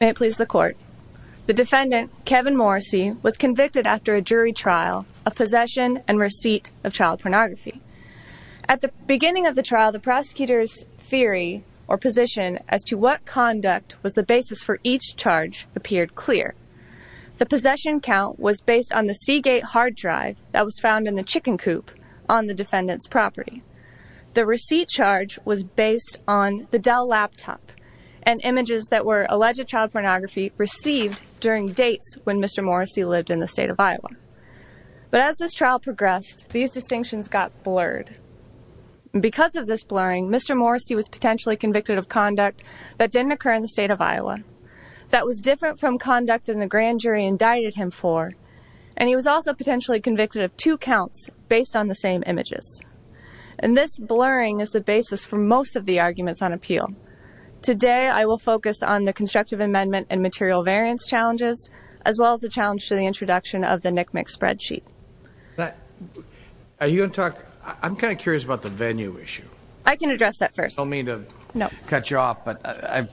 May it please the court. The defendant, Kevin Morrissey, was convicted after a jury trial of possession and receipt of child pornography. At the beginning of the trial, the prosecutor's theory or position as to what conduct was the basis for each charge appeared clear. The possession count was based on the Seagate hard drive that was found in the chicken coop on the defendant's property. The receipt charge was based on the Dell laptop and images that were alleged child pornography received during dates when Mr. Morrissey lived in the state of Iowa. But as this trial progressed, these distinctions got blurred. Because of this blurring, Mr. Morrissey was potentially convicted of conduct that didn't occur in the state of Iowa, that was different from conduct than the grand jury indicted him for, and he was also potentially convicted of two counts based on the same images. And this blurring is the basis for most of the arguments on appeal. Today, I will focus on the constructive amendment and material variance challenges, as well as the challenge to the introduction of the NCMEC spreadsheet. Are you going to talk, I'm kind of curious about the venue issue. I can address that first. Don't mean to cut you off, but I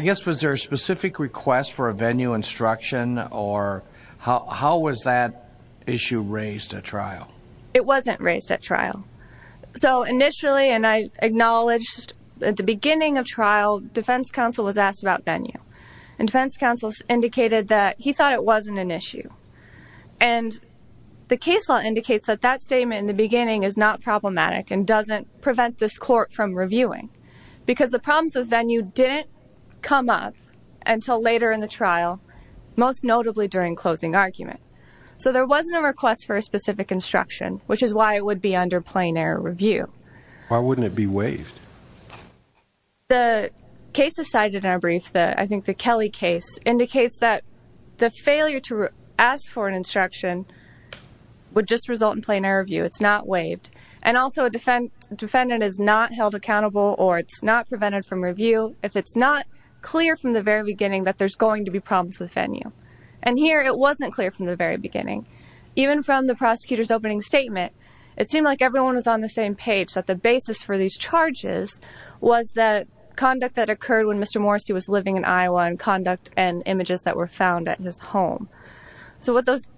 guess was there a specific request for a venue instruction or how was that issue raised at trial? It wasn't raised at trial. So initially, and I acknowledged at the beginning of trial, defense counsel was asked about that he thought it wasn't an issue. And the case law indicates that that statement in the beginning is not problematic and doesn't prevent this court from reviewing. Because the problems with venue didn't come up until later in the trial, most notably during closing argument. So there wasn't a request for a specific instruction, which is why it would be under plain error review. Why wouldn't it be waived? The case decided in our brief that I think the Kelly case indicates that the failure to ask for an instruction would just result in plain error review. It's not waived. And also a defendant is not held accountable or it's not prevented from review if it's not clear from the very beginning that there's going to be problems with venue. And here, it wasn't clear from the very beginning. Even from the prosecutor's opening statement, it seemed like everyone was on the same page that the basis for these charges was that conduct that occurred when Mr. Morrissey was living in Iowa and conduct and images that were found at his home. So what those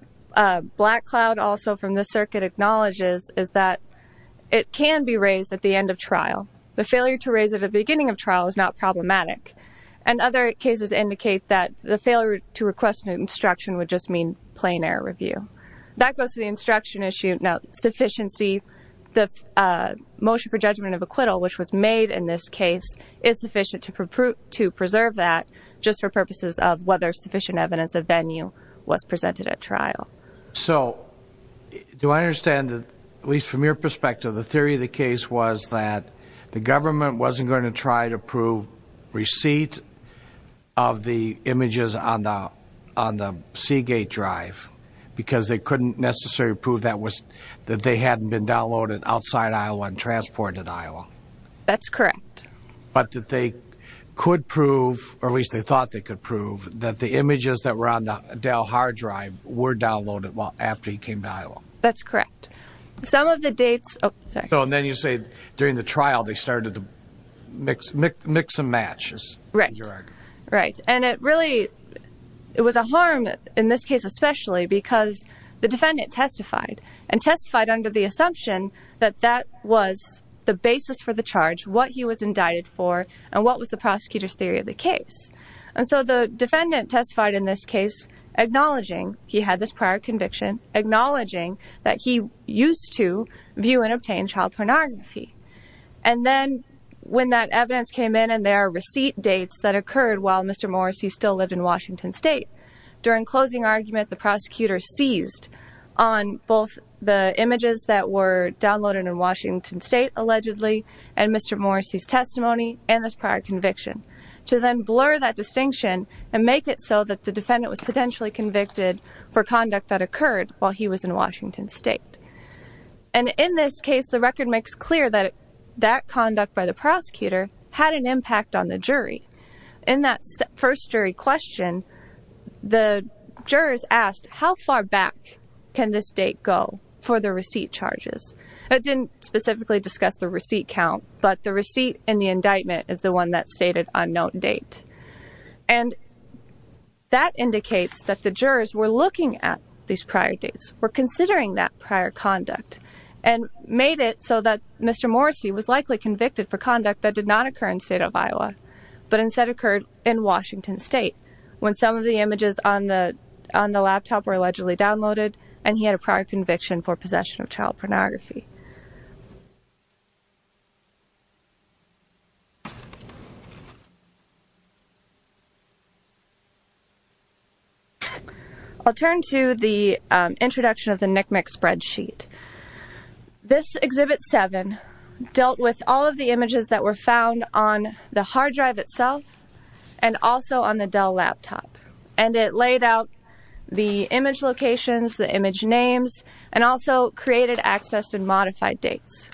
black cloud also from the circuit acknowledges is that it can be raised at the end of trial. The failure to raise it at the beginning of trial is not problematic. And other cases indicate that the failure to request an instruction would just mean plain error review. That goes to the instruction issue. Now, sufficiency, the motion for judgment of acquittal, which was made in this case, is sufficient to preserve that just for purposes of whether sufficient evidence of venue was presented at trial. So do I understand that, at least from your perspective, the theory of the case was that the government wasn't going to try to prove receipt of the images on the Seagate drive because they couldn't necessarily prove that they hadn't been downloaded outside Iowa and transported to Iowa? That's correct. But that they could prove, or at least they thought they could prove, that the images that were on the Dell hard drive were downloaded after he came to Iowa? That's correct. Some of the dates... Oh, sorry. So then you say during the trial, they started to mix and match. Right. Right. And it really, it was a harm in this case especially because the defendant testified and testified under the assumption that that was the basis for the charge, what he was indicted for, and what was the prosecutor's theory of the case. And so the defendant testified in this case acknowledging he had this prior conviction, acknowledging that he used to view and obtain child pornography. And then when that evidence came in and there are receipt dates that occurred while Mr. Morrissey still lived in Washington State, during closing argument, the prosecutor seized on both the images that were downloaded in Washington State allegedly and Mr. Morrissey's testimony and this prior conviction to then blur that distinction and make it so that the defendant was potentially convicted for conduct that occurred while he was in Washington State. And in this case, the record makes clear that that conduct by the prosecutor had an impact on the jury. In that first jury question, the jurors asked, how far back can this date go for the receipt charges? It didn't specifically discuss the receipt count, but the receipt and the indictment is the one that stated on note date. And that indicates that the jurors were looking at these prior dates, were considering that prior conduct, and made it so that Mr. Morrissey was likely convicted for conduct that did not occur in the state of Iowa, but instead occurred in Washington State when some of the images on the laptop were allegedly downloaded and he had a prior conviction for possession of child pornography. I'll turn to the introduction of the NCMEC spreadsheet. This Exhibit 7 dealt with all of the images that were found on the hard drive itself and also on the Dell laptop. And it laid out the image locations, the image names, and also created, accessed, and modified dates.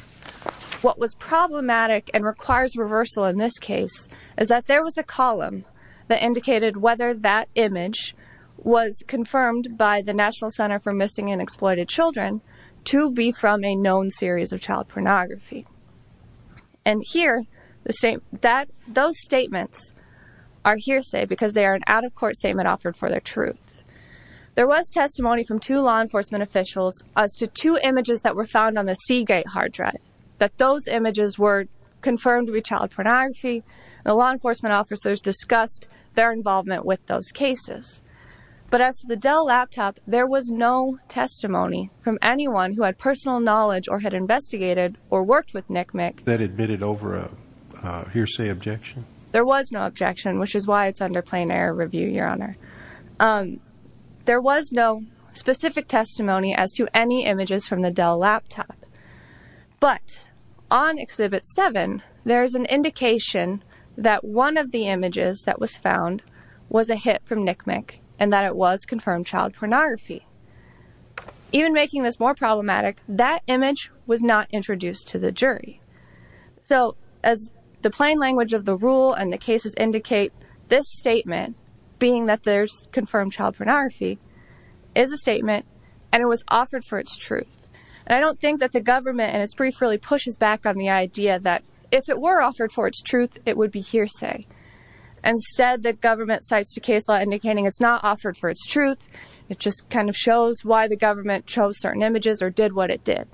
What was problematic and requires reversal in this case is that there was a column that indicated whether that image was confirmed by the National Center for Missing and Exploited Children to be from a known series of child pornography. And here, those statements are hearsay because they are an out-of-court statement offered for their truth. There was testimony from two law enforcement officials as to two images that were found on the Seagate hard drive, that those images were confirmed to be child pornography, and the law enforcement officers discussed their involvement with those cases. But as to the Dell laptop, there was no testimony from anyone who had personal knowledge or had investigated or worked with NCMEC that admitted over a hearsay objection. There was no objection, which is why it's under plain error review, Your Honor. There was no specific testimony as to any images from the Dell laptop. But on Exhibit 7, there's an indication that one of the images that was found was a hit from NCMEC and that it was confirmed child pornography. Even making this more problematic, that image was not introduced to the jury. So as the plain language of the rule and the cases indicate, this statement, being that there's confirmed child pornography, is a statement and it was offered for its truth. And I don't think that the government in its brief really pushes back on the idea that if it were offered for its truth, it would be hearsay. Instead, the government cites the case law indicating it's not offered for its truth. It just kind of shows why the government chose certain images or did what it did.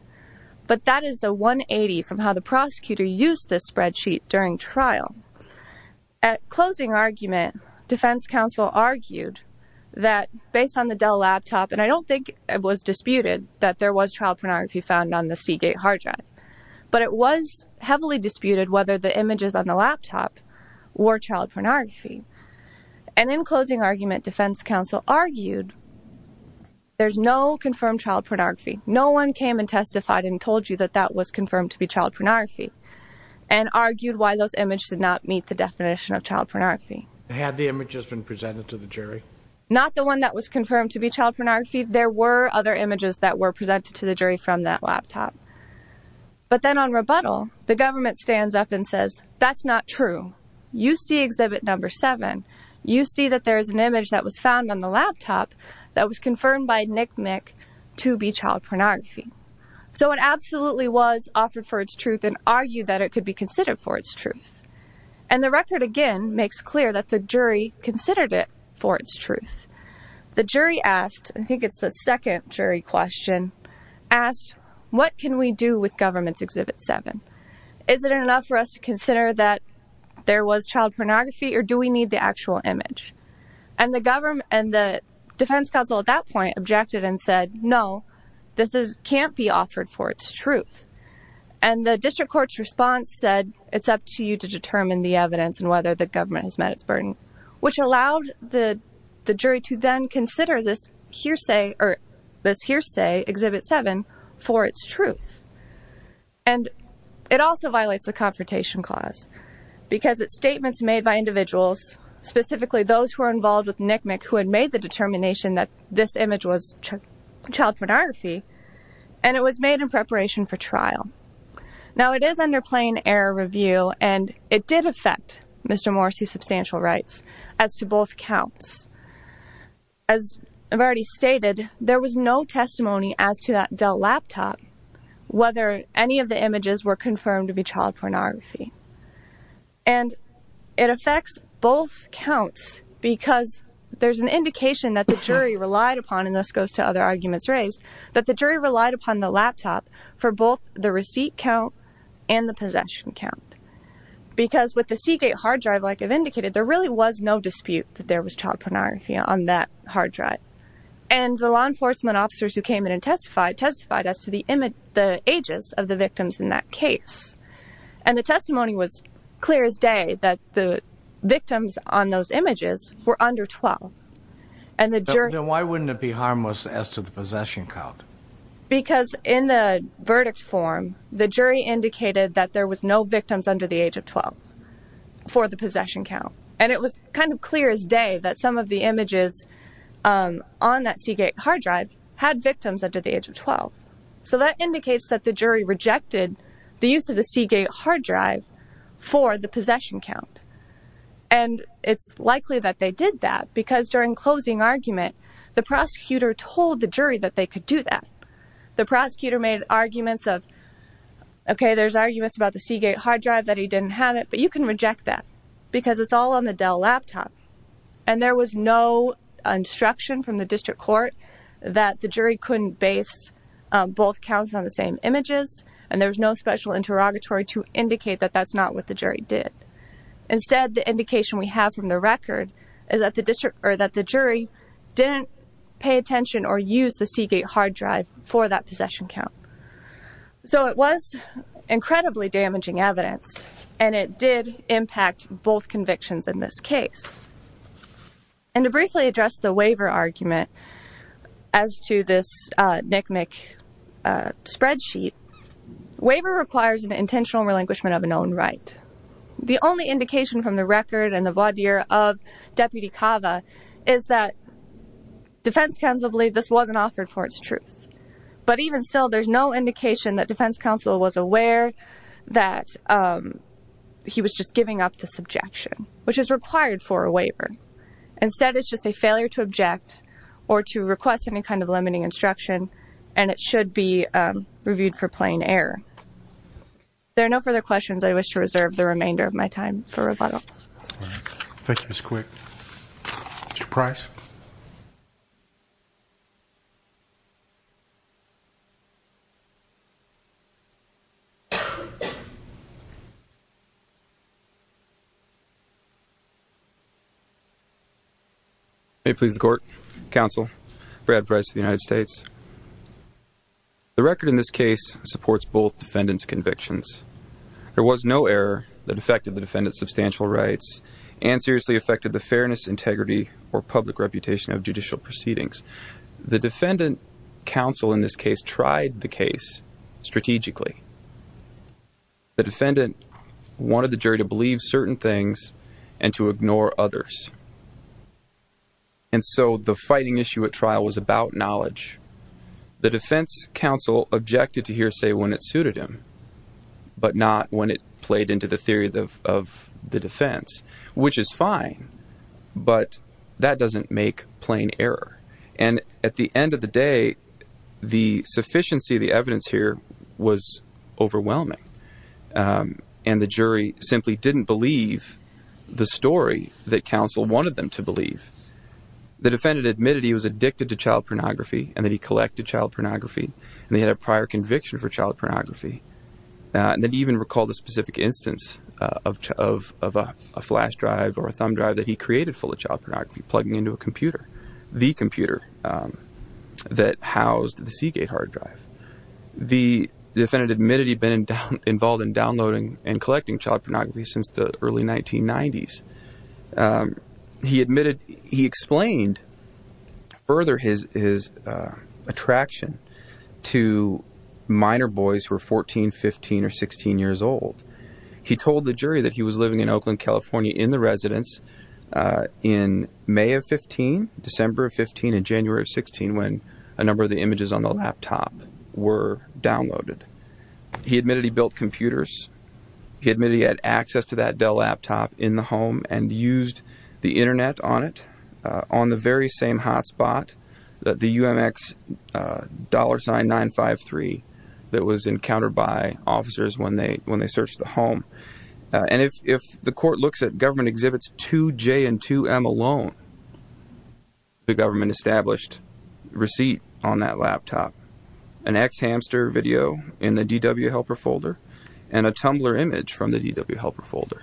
But that is a 180 from how the prosecutor used this spreadsheet during trial. At closing argument, defense counsel argued that based on the Dell laptop, and I don't think it was disputed that there was child pornography found on the Seagate hard drive, but it was heavily disputed whether the images on the laptop were child pornography. And in closing argument, defense counsel argued there's no confirmed child pornography. No one came and testified and told you that that was confirmed to be child pornography and argued why those images did not meet the definition of child pornography. Had the images been presented to the jury? Not the one that was confirmed to be child pornography. There were other images that were presented to the jury from that laptop. But then on rebuttal, the government stands up and says, that's not true. You see exhibit number seven. You see that there's an image that was found on the laptop that was confirmed by Nick Mick to be child pornography. So it absolutely was offered for its truth and argued that it could be considered for its truth. And the record again makes clear that the jury considered it for its truth. The jury asked, I think it's the second jury question, asked, what can we do with government's exhibit seven? Is it enough for us to consider that there was child pornography or do we need the actual image? And the defense counsel at that point objected and said, no, this can't be offered for its truth. And the district court's response said, it's up to you to determine the evidence and whether the government has met its burden, which allowed the jury to then consider this hearsay exhibit seven for its truth. And it also violates the confrontation clause because it's statements made by individuals, specifically those who are involved with Nick Mick who had made the determination that this image was child pornography, and it was made in preparation for trial. Now it is under plain error review and it did affect Mr. Morrissey's substantial rights as to both counts. As I've already stated, there was no testimony as to that Dell laptop whether any of the images were confirmed to be child pornography. And it affects both counts because there's an indication that the jury relied upon, and this goes to other arguments raised, that the jury relied upon the laptop for both the receipt count and the possession count. Because with the Seagate hard drive, like I've indicated, there really was no dispute that there was child pornography on that hard drive. And the law enforcement officers who came in and testified as to the ages of the victims in that case. And the testimony was clear as day that the victims on those images were under 12. And the jury- Then why wouldn't it be harmless as to the possession count? Because in the verdict form, the jury indicated that there was no victims under the age of 12 for the possession count. And it was kind of clear as day that some of the images on that Seagate hard drive had victims under the age of 12. So that indicates that the jury rejected the use of the Seagate hard drive for the possession count. And it's likely that they did that because during closing argument, the prosecutor told the jury that they could do that. The prosecutor made arguments of, okay, there's arguments about the Seagate hard drive that he didn't have it, but you can reject that. Because it's all on the Dell laptop. And there was no instruction from the district court that the jury couldn't base both counts on the same images. And there was no special interrogatory to indicate that that's not what the jury did. Instead, the indication we have from the record is that the jury didn't pay attention or use the Seagate hard drive for that possession count. So it was incredibly damaging evidence, and it did impact both convictions in this case. And to briefly address the waiver argument as to this NCMEC spreadsheet. Waiver requires an intentional relinquishment of a known right. The only indication from the record and the voir dire of Deputy Cava is that defense counsel believed this wasn't offered for its truth. But even still, there's no indication that defense counsel was aware that he was just giving up this objection, which is required for a waiver. Instead, it's just a failure to object or to request any kind of limiting instruction, and it should be reviewed for plain error. There are no further questions. I wish to reserve the remainder of my time for rebuttal. Thank you, Ms. Quick. Mr. Price. May it please the court, counsel, Brad Price of the United States. The record in this case supports both defendants' convictions. There was no error that affected the defendant's substantial rights and seriously affected the fairness, integrity, or public reputation of judicial proceedings. The defendant counsel in this case tried the case strategically. The defendant wanted the jury to believe certain things and to ignore others. And so the fighting issue at trial was about knowledge. The defense counsel objected to hearsay when it suited him, but not when it played into the theory of the defense, which is fine. But that doesn't make plain error. And at the end of the day, the sufficiency of the evidence here was overwhelming, and the jury simply didn't believe the story that counsel wanted them to believe. The defendant admitted he was addicted to child pornography, and that he collected child pornography, and he had a prior conviction for child pornography. And then he even recalled a specific instance of a flash drive or a thumb drive that he created full of child pornography, plugging into a computer. The computer that housed the Seagate hard drive. The defendant admitted he'd been involved in downloading and collecting child pornography since the early 1990s. He admitted, he explained further his attraction to minor boys who were 14, 15, or 16 years old. He told the jury that he was living in Oakland, California in the residence in May of 15, December of 15, and January of 16 when a number of the images on the laptop were downloaded. He admitted he built computers. He admitted he had access to that Dell laptop in the home and used the internet on it on the very same hotspot, the UMX dollar sign 953 that was encountered by officers when they searched the home. And if the court looks at government exhibits 2J and 2M alone, the government established receipt on that laptop, an ex-hamster video in the DW helper folder, and a Tumblr image from the DW helper folder.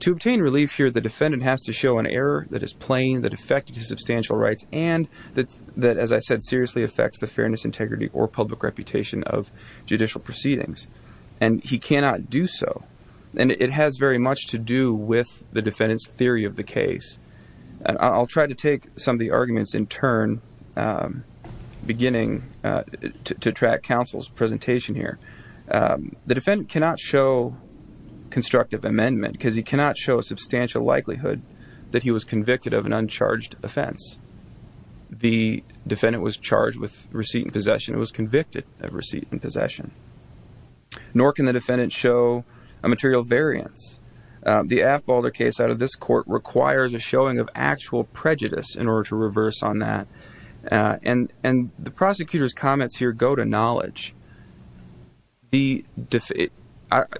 To obtain relief here, the defendant has to show an error that is plain, that affected his substantial rights, and that, as I said, seriously affects the fairness, integrity, or public reputation of judicial proceedings. And he cannot do so. And it has very much to do with the defendant's theory of the case. And I'll try to take some of the arguments in turn, beginning to track counsel's presentation here. The defendant cannot show constructive amendment, because he cannot show a substantial likelihood that he was convicted of an uncharged offense. The defendant was charged with receipt and possession. It was convicted of receipt and possession. Nor can the defendant show a material variance. The Aft-Balder case out of this court requires a showing of actual prejudice in order to reverse on that. And the prosecutor's comments here go to knowledge. The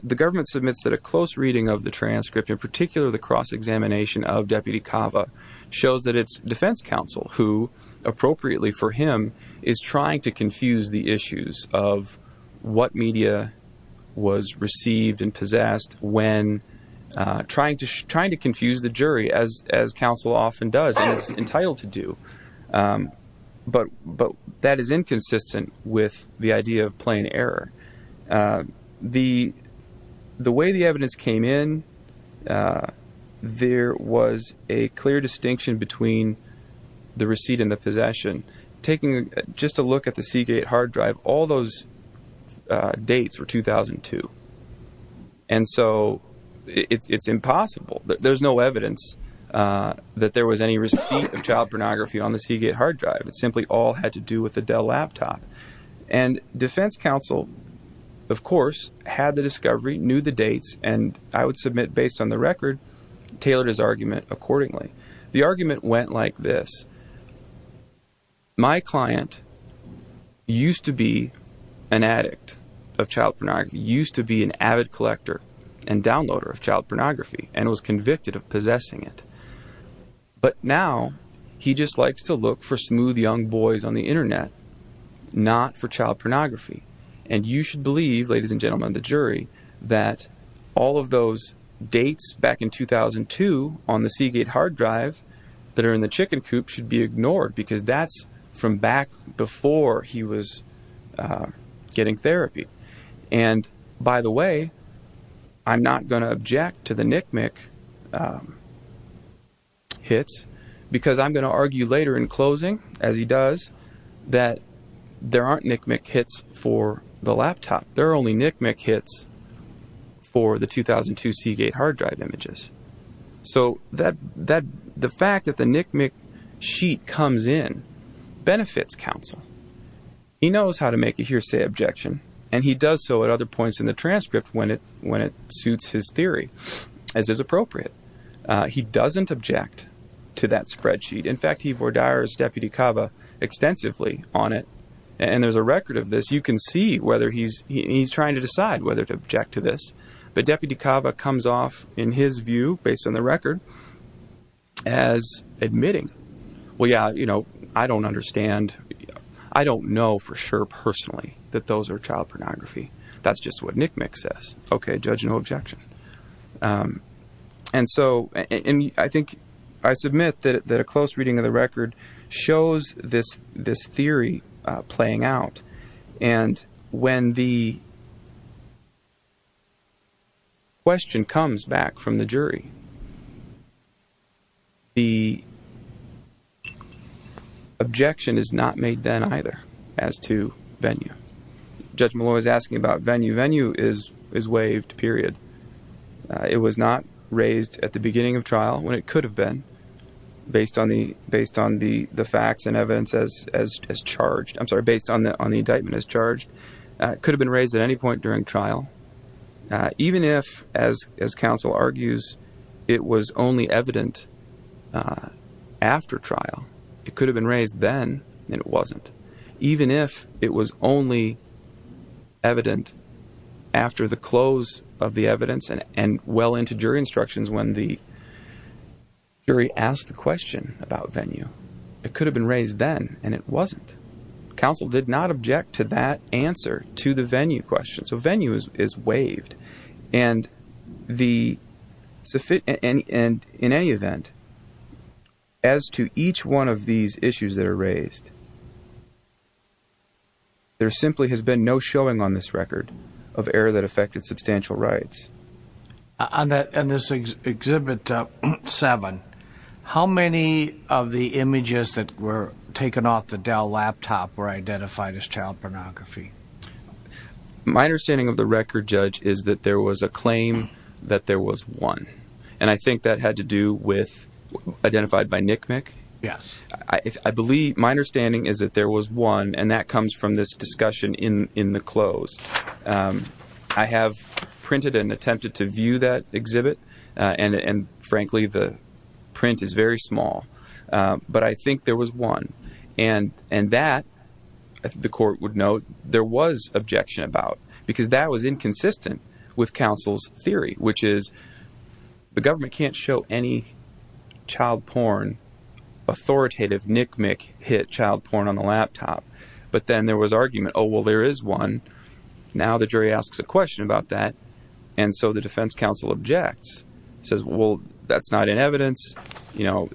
government submits that a close reading of the transcript, in particular the cross-examination of Deputy Cava, shows that it's defense counsel who, appropriately for him, is trying to confuse the issues of what media was received and possessed when trying to confuse the jury, as counsel often does and is entitled to do. But that is inconsistent with the idea of plain error. The way the evidence came in, there was a clear distinction between the receipt and the possession. Taking just a look at the Seagate hard drive, all those dates were 2002. And so it's impossible. There's no evidence that there was any receipt of child pornography on the Seagate hard drive. It simply all had to do with the Dell laptop. And defense counsel, of course, had the discovery, knew the dates, and I would submit, based on the record, tailored his argument accordingly. The argument went like this. My client used to be an addict of child pornography, used to be an avid collector and downloader of child pornography, and was convicted of possessing it. But now he just likes to look for smooth young boys on the internet, not for child pornography. And you should believe, ladies and gentlemen of the jury, that all of those dates back in 2002 on the Seagate hard drive that are in the chicken coop should be ignored because that's from back before he was getting therapy. And by the way, I'm not going to object to the Nickmick hits because I'm going to argue later in closing, as he does, that there aren't Nickmick hits for the laptop. There are only Nickmick hits for the 2002 Seagate hard drive images. So the fact that the Nickmick sheet comes in benefits counsel. He knows how to make a hearsay objection, and he does so at other points in the transcript when it suits his theory, as is appropriate. He doesn't object to that spreadsheet. In fact, he vordires Deputy Cava extensively on it, and there's a record of this. You can see whether he's trying to decide whether to object to this. But Deputy Cava comes off in his view based on the record as admitting, well, yeah, you know, I don't understand. I don't know for sure personally that those are child pornography. That's just what Nickmick says. Okay, judge, no objection. And so I think I submit that a close reading of the record shows this theory playing out. And when the question comes back from the jury, the objection is not made then either as to venue. Judge Malloy is asking about venue. Venue is waived, period. It was not raised at the beginning of trial when it could have been based on the facts and evidence as charged. I'm sorry, based on the indictment as charged. It could have been raised at any point during trial, even if, as counsel argues, it was only evident after trial. It could have been raised then and it wasn't. Even if it was only evident after the close of the evidence and well into jury instructions when the jury asked the question about venue, it could have been raised then and it wasn't. Counsel did not object to that answer to the venue question. So venue is waived. And in any event, as to each one of these issues that are raised, there simply has been no showing on this record of error that affected substantial rights. On this Exhibit 7, how many of the images that were taken off the Dell laptop were identified as child pornography? My understanding of the record, judge, is that there was a claim that there was one. And I think that had to do with identified by Nick Nick. Yes. I believe my understanding is that there was one. And that comes from this discussion in in the close. I have printed and attempted to view that exhibit. And frankly, the print is very small. But I think there was one. And and that the court would note there was objection about because that was inconsistent with counsel's theory, which is the government can't show any child porn authoritative Nick Nick hit child porn on the laptop. But then there was argument. Oh, well, there is one. Now the jury asks a question about that. And so the defense counsel objects, says, well, that's not in evidence. You know,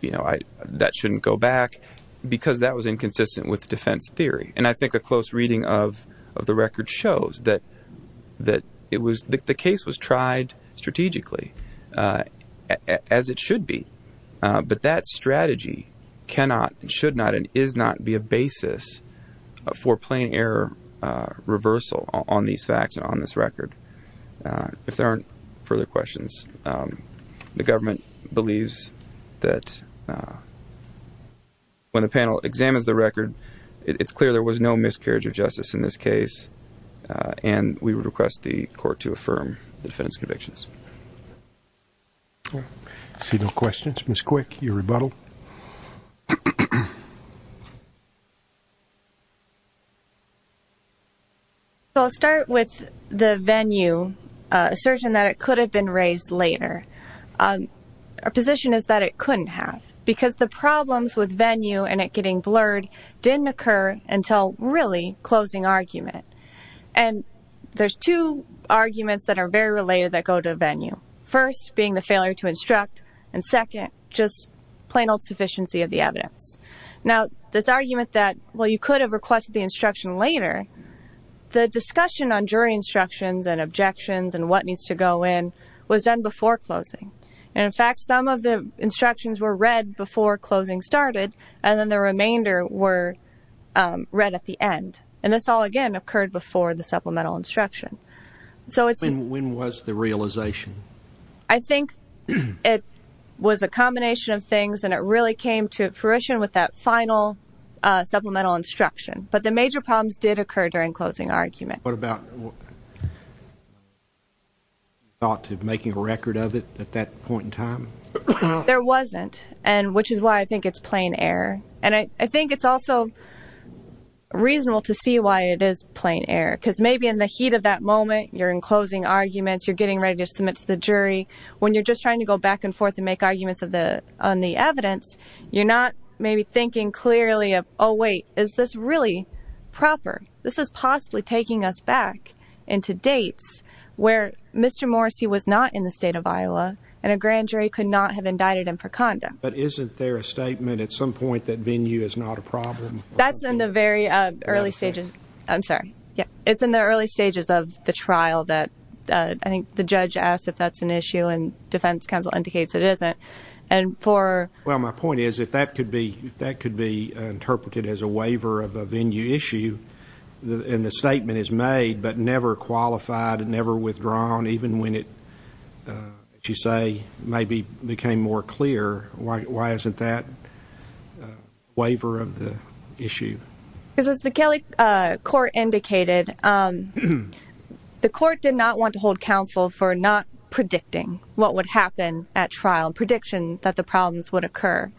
you know, that shouldn't go back. Because that was inconsistent with defense theory. And I think a close reading of of the record shows that that it was the case was tried strategically as it should be. But that strategy cannot and should not and is not be a basis for plain error reversal on these facts and on this record. If there aren't further questions, the government believes that. When the panel examines the record, it's clear there was no miscarriage of justice in this case, and we would request the court to affirm the defendant's convictions. See no questions. Ms. Quick, your rebuttal. So I'll start with the venue assertion that it could have been raised later. Our position is that it couldn't have. Because the problems with venue and it getting blurred didn't occur until really closing argument. And there's two arguments that are very related that go to venue. First, being the failure to instruct. And second, just plain old sufficiency of the evidence. Now, this argument that, well, you could have requested the instruction later. The discussion on jury instructions and objections and what needs to go in was done before closing. And in fact, some of the instructions were read before closing started and then the remainder were read at the end. And this all, again, occurred before the supplemental instruction. So it's when was the realization? I think it was a combination of things, and it really came to fruition with that final supplemental instruction. But the major problems did occur during closing argument. What about. What? Thought to making a record of it at that point in time? There wasn't. And which is why I think it's plain error. And I think it's also reasonable to see why it is plain error, because maybe in the heat of that moment, you're in closing arguments, you're getting ready to submit to the jury when you're just trying to go back and forth and make arguments of the on the evidence, you're not maybe thinking clearly of, oh, wait, is this really proper? This is possibly taking us back into dates where Mr. Morrissey was not in the state of Iowa and a grand jury could not have indicted him for condom. But isn't there a statement at some point that venue is not a problem? That's in the very early stages. I'm sorry. Yeah, it's in the early stages of the trial that I think the judge asked if that's an issue and defense counsel indicates it isn't. And for. Well, my point is, if that could be that could be interpreted as a waiver of a venue issue, and the statement is made, but never qualified and never withdrawn, even when it, as you say, maybe became more clear. Why isn't that waiver of the issue? Because as the Kelly court indicated, the court did not want to hold counsel for not predicting what would happen at trial prediction that the problems would occur.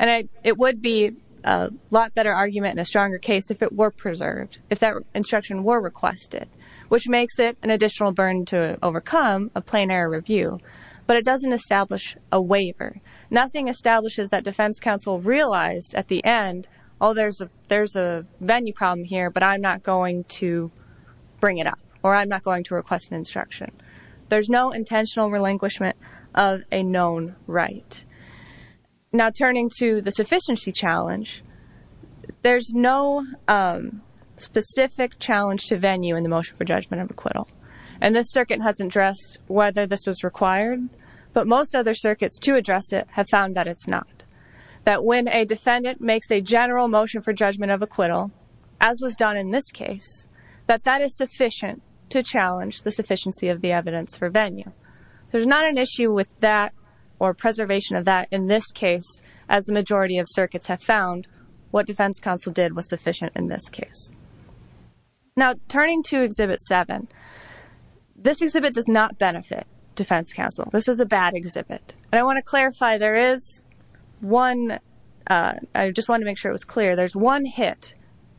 And it would be a lot better argument in a stronger case if it were preserved, if that instruction were requested, which makes it an additional burden to overcome a plenary review. But it doesn't establish a waiver. Nothing establishes that defense counsel realized at the end. Oh, there's a there's a venue problem here, but I'm not going to bring it up or I'm not going to request an instruction. There's no intentional relinquishment of a known right now turning to the sufficiency challenge. There's no specific challenge to venue in the motion for judgment of acquittal. And this circuit hasn't addressed whether this was required. But most other circuits to address it have found that it's not that when a defendant makes a general motion for judgment of acquittal, as was done in this case, that that is sufficient to challenge the sufficiency of the evidence for venue. There's not an issue with that or preservation of that in this case, as the majority of circuits have found what defense counsel did was sufficient in this case. Now, turning to exhibit seven, this exhibit does not benefit Defense Council. This is a bad exhibit. And I want to clarify there is one. I just want to make sure it was clear. There's one hit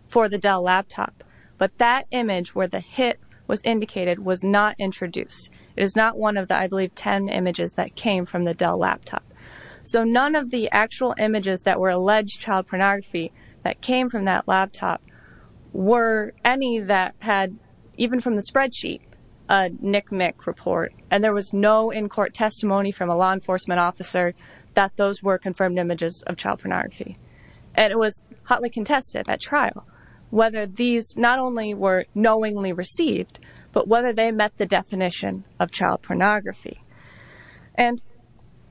for the Dell laptop. But that image where the hit was indicated was not introduced. It is not one of the, I believe, 10 images that came from the Dell laptop. So none of the actual images that were alleged child pornography that came from that laptop were any that had, even from the spreadsheet, a nic-mic report. And there was no in-court testimony from a law enforcement officer that those were confirmed images of child pornography. And it was hotly contested at trial whether these not only were knowingly received, but whether they met the definition of child pornography. And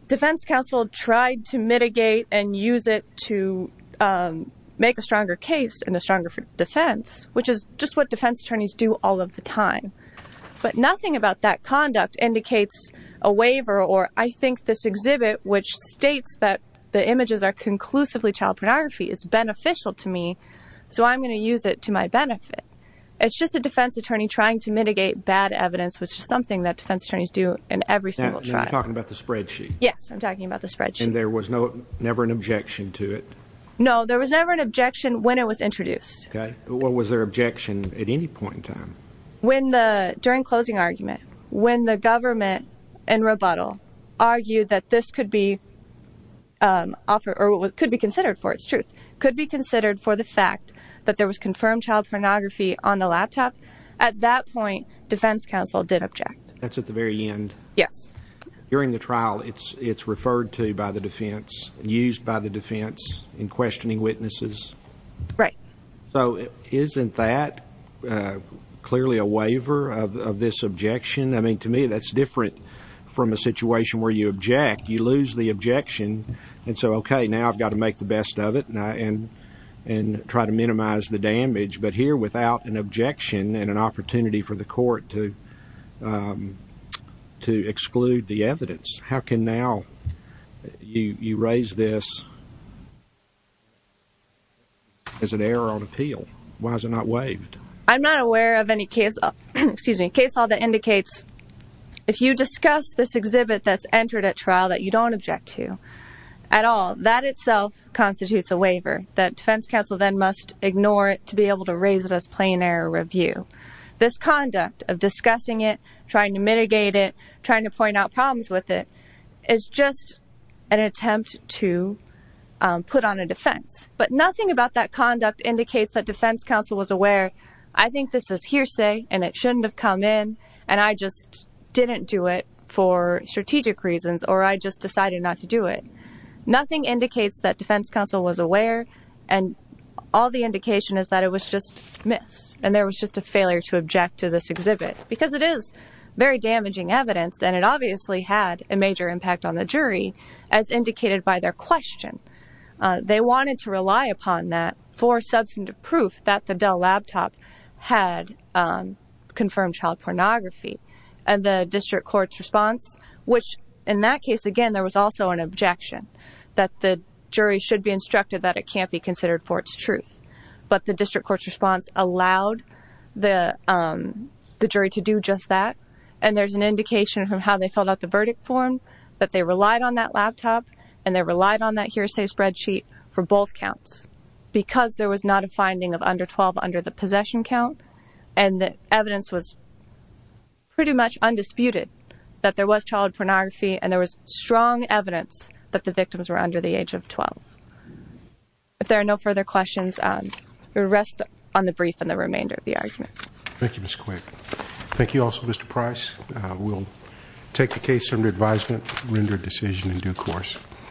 Defense Council tried to mitigate and use it to make a stronger case and a stronger defense, which is just what defense attorneys do all of the time. But nothing about that conduct indicates a waiver. Or I think this exhibit, which states that the images are conclusively child pornography, is beneficial to me. So I'm going to use it to my benefit. It's just a defense attorney trying to mitigate bad evidence, which is something that defense attorneys do in every single trial. You're talking about the spreadsheet? Yes, I'm talking about the spreadsheet. And there was no, never an objection to it? No, there was never an objection when it was introduced. OK, what was their objection at any point in time? When the, during closing argument, when the government and rebuttal argued that this could be offered or what could be considered for its truth, could be considered for the fact that there was confirmed child pornography on the laptop. At that point, defense counsel did object. That's at the very end. Yes. During the trial, it's it's referred to by the defense, used by the defense in questioning witnesses. Right. So isn't that clearly a waiver of this objection? I mean, to me, that's different from a situation where you object, you lose the objection. And so, OK, now I've got to make the best of it and and and try to minimize the damage. But here, without an objection and an opportunity for the court to to exclude the evidence, how can now you raise this? As an error on appeal, why is it not waived? I'm not aware of any case, excuse me, case law that indicates if you discuss this exhibit that's entered at trial that you don't object to at all, that itself constitutes a waiver that defense counsel then must ignore it to be able to raise it as plain error review. This conduct of discussing it, trying to mitigate it, trying to point out problems with it is just an attempt to put on a defense. But nothing about that conduct indicates that defense counsel was aware. I think this is hearsay and it shouldn't have come in. And I just didn't do it for strategic reasons or I just decided not to do it. Nothing indicates that defense counsel was aware. And all the indication is that it was just missed. And there was just a failure to object to this exhibit because it is very damaging evidence. And it obviously had a major impact on the jury, as indicated by their question. They wanted to rely upon that for substantive proof that the Dell laptop had confirmed child pornography and the district court's response, which in that case, again, there was also an objection that the jury should be instructed that it can't be considered for its truth. But the district court's response allowed the jury to do just that. And there's an indication from how they filled out the verdict form that they relied on that laptop and they relied on that hearsay spreadsheet for both counts because there was not a finding of under 12 under the possession count. And the evidence was. Pretty much undisputed that there was child pornography and there was strong evidence that the victims were under the age of 12. If there are no further questions, the rest on the brief and the remainder of the arguments. Thank you, Ms. Quick. Thank you also, Mr. Price. We'll take the case under advisement, render a decision in due course.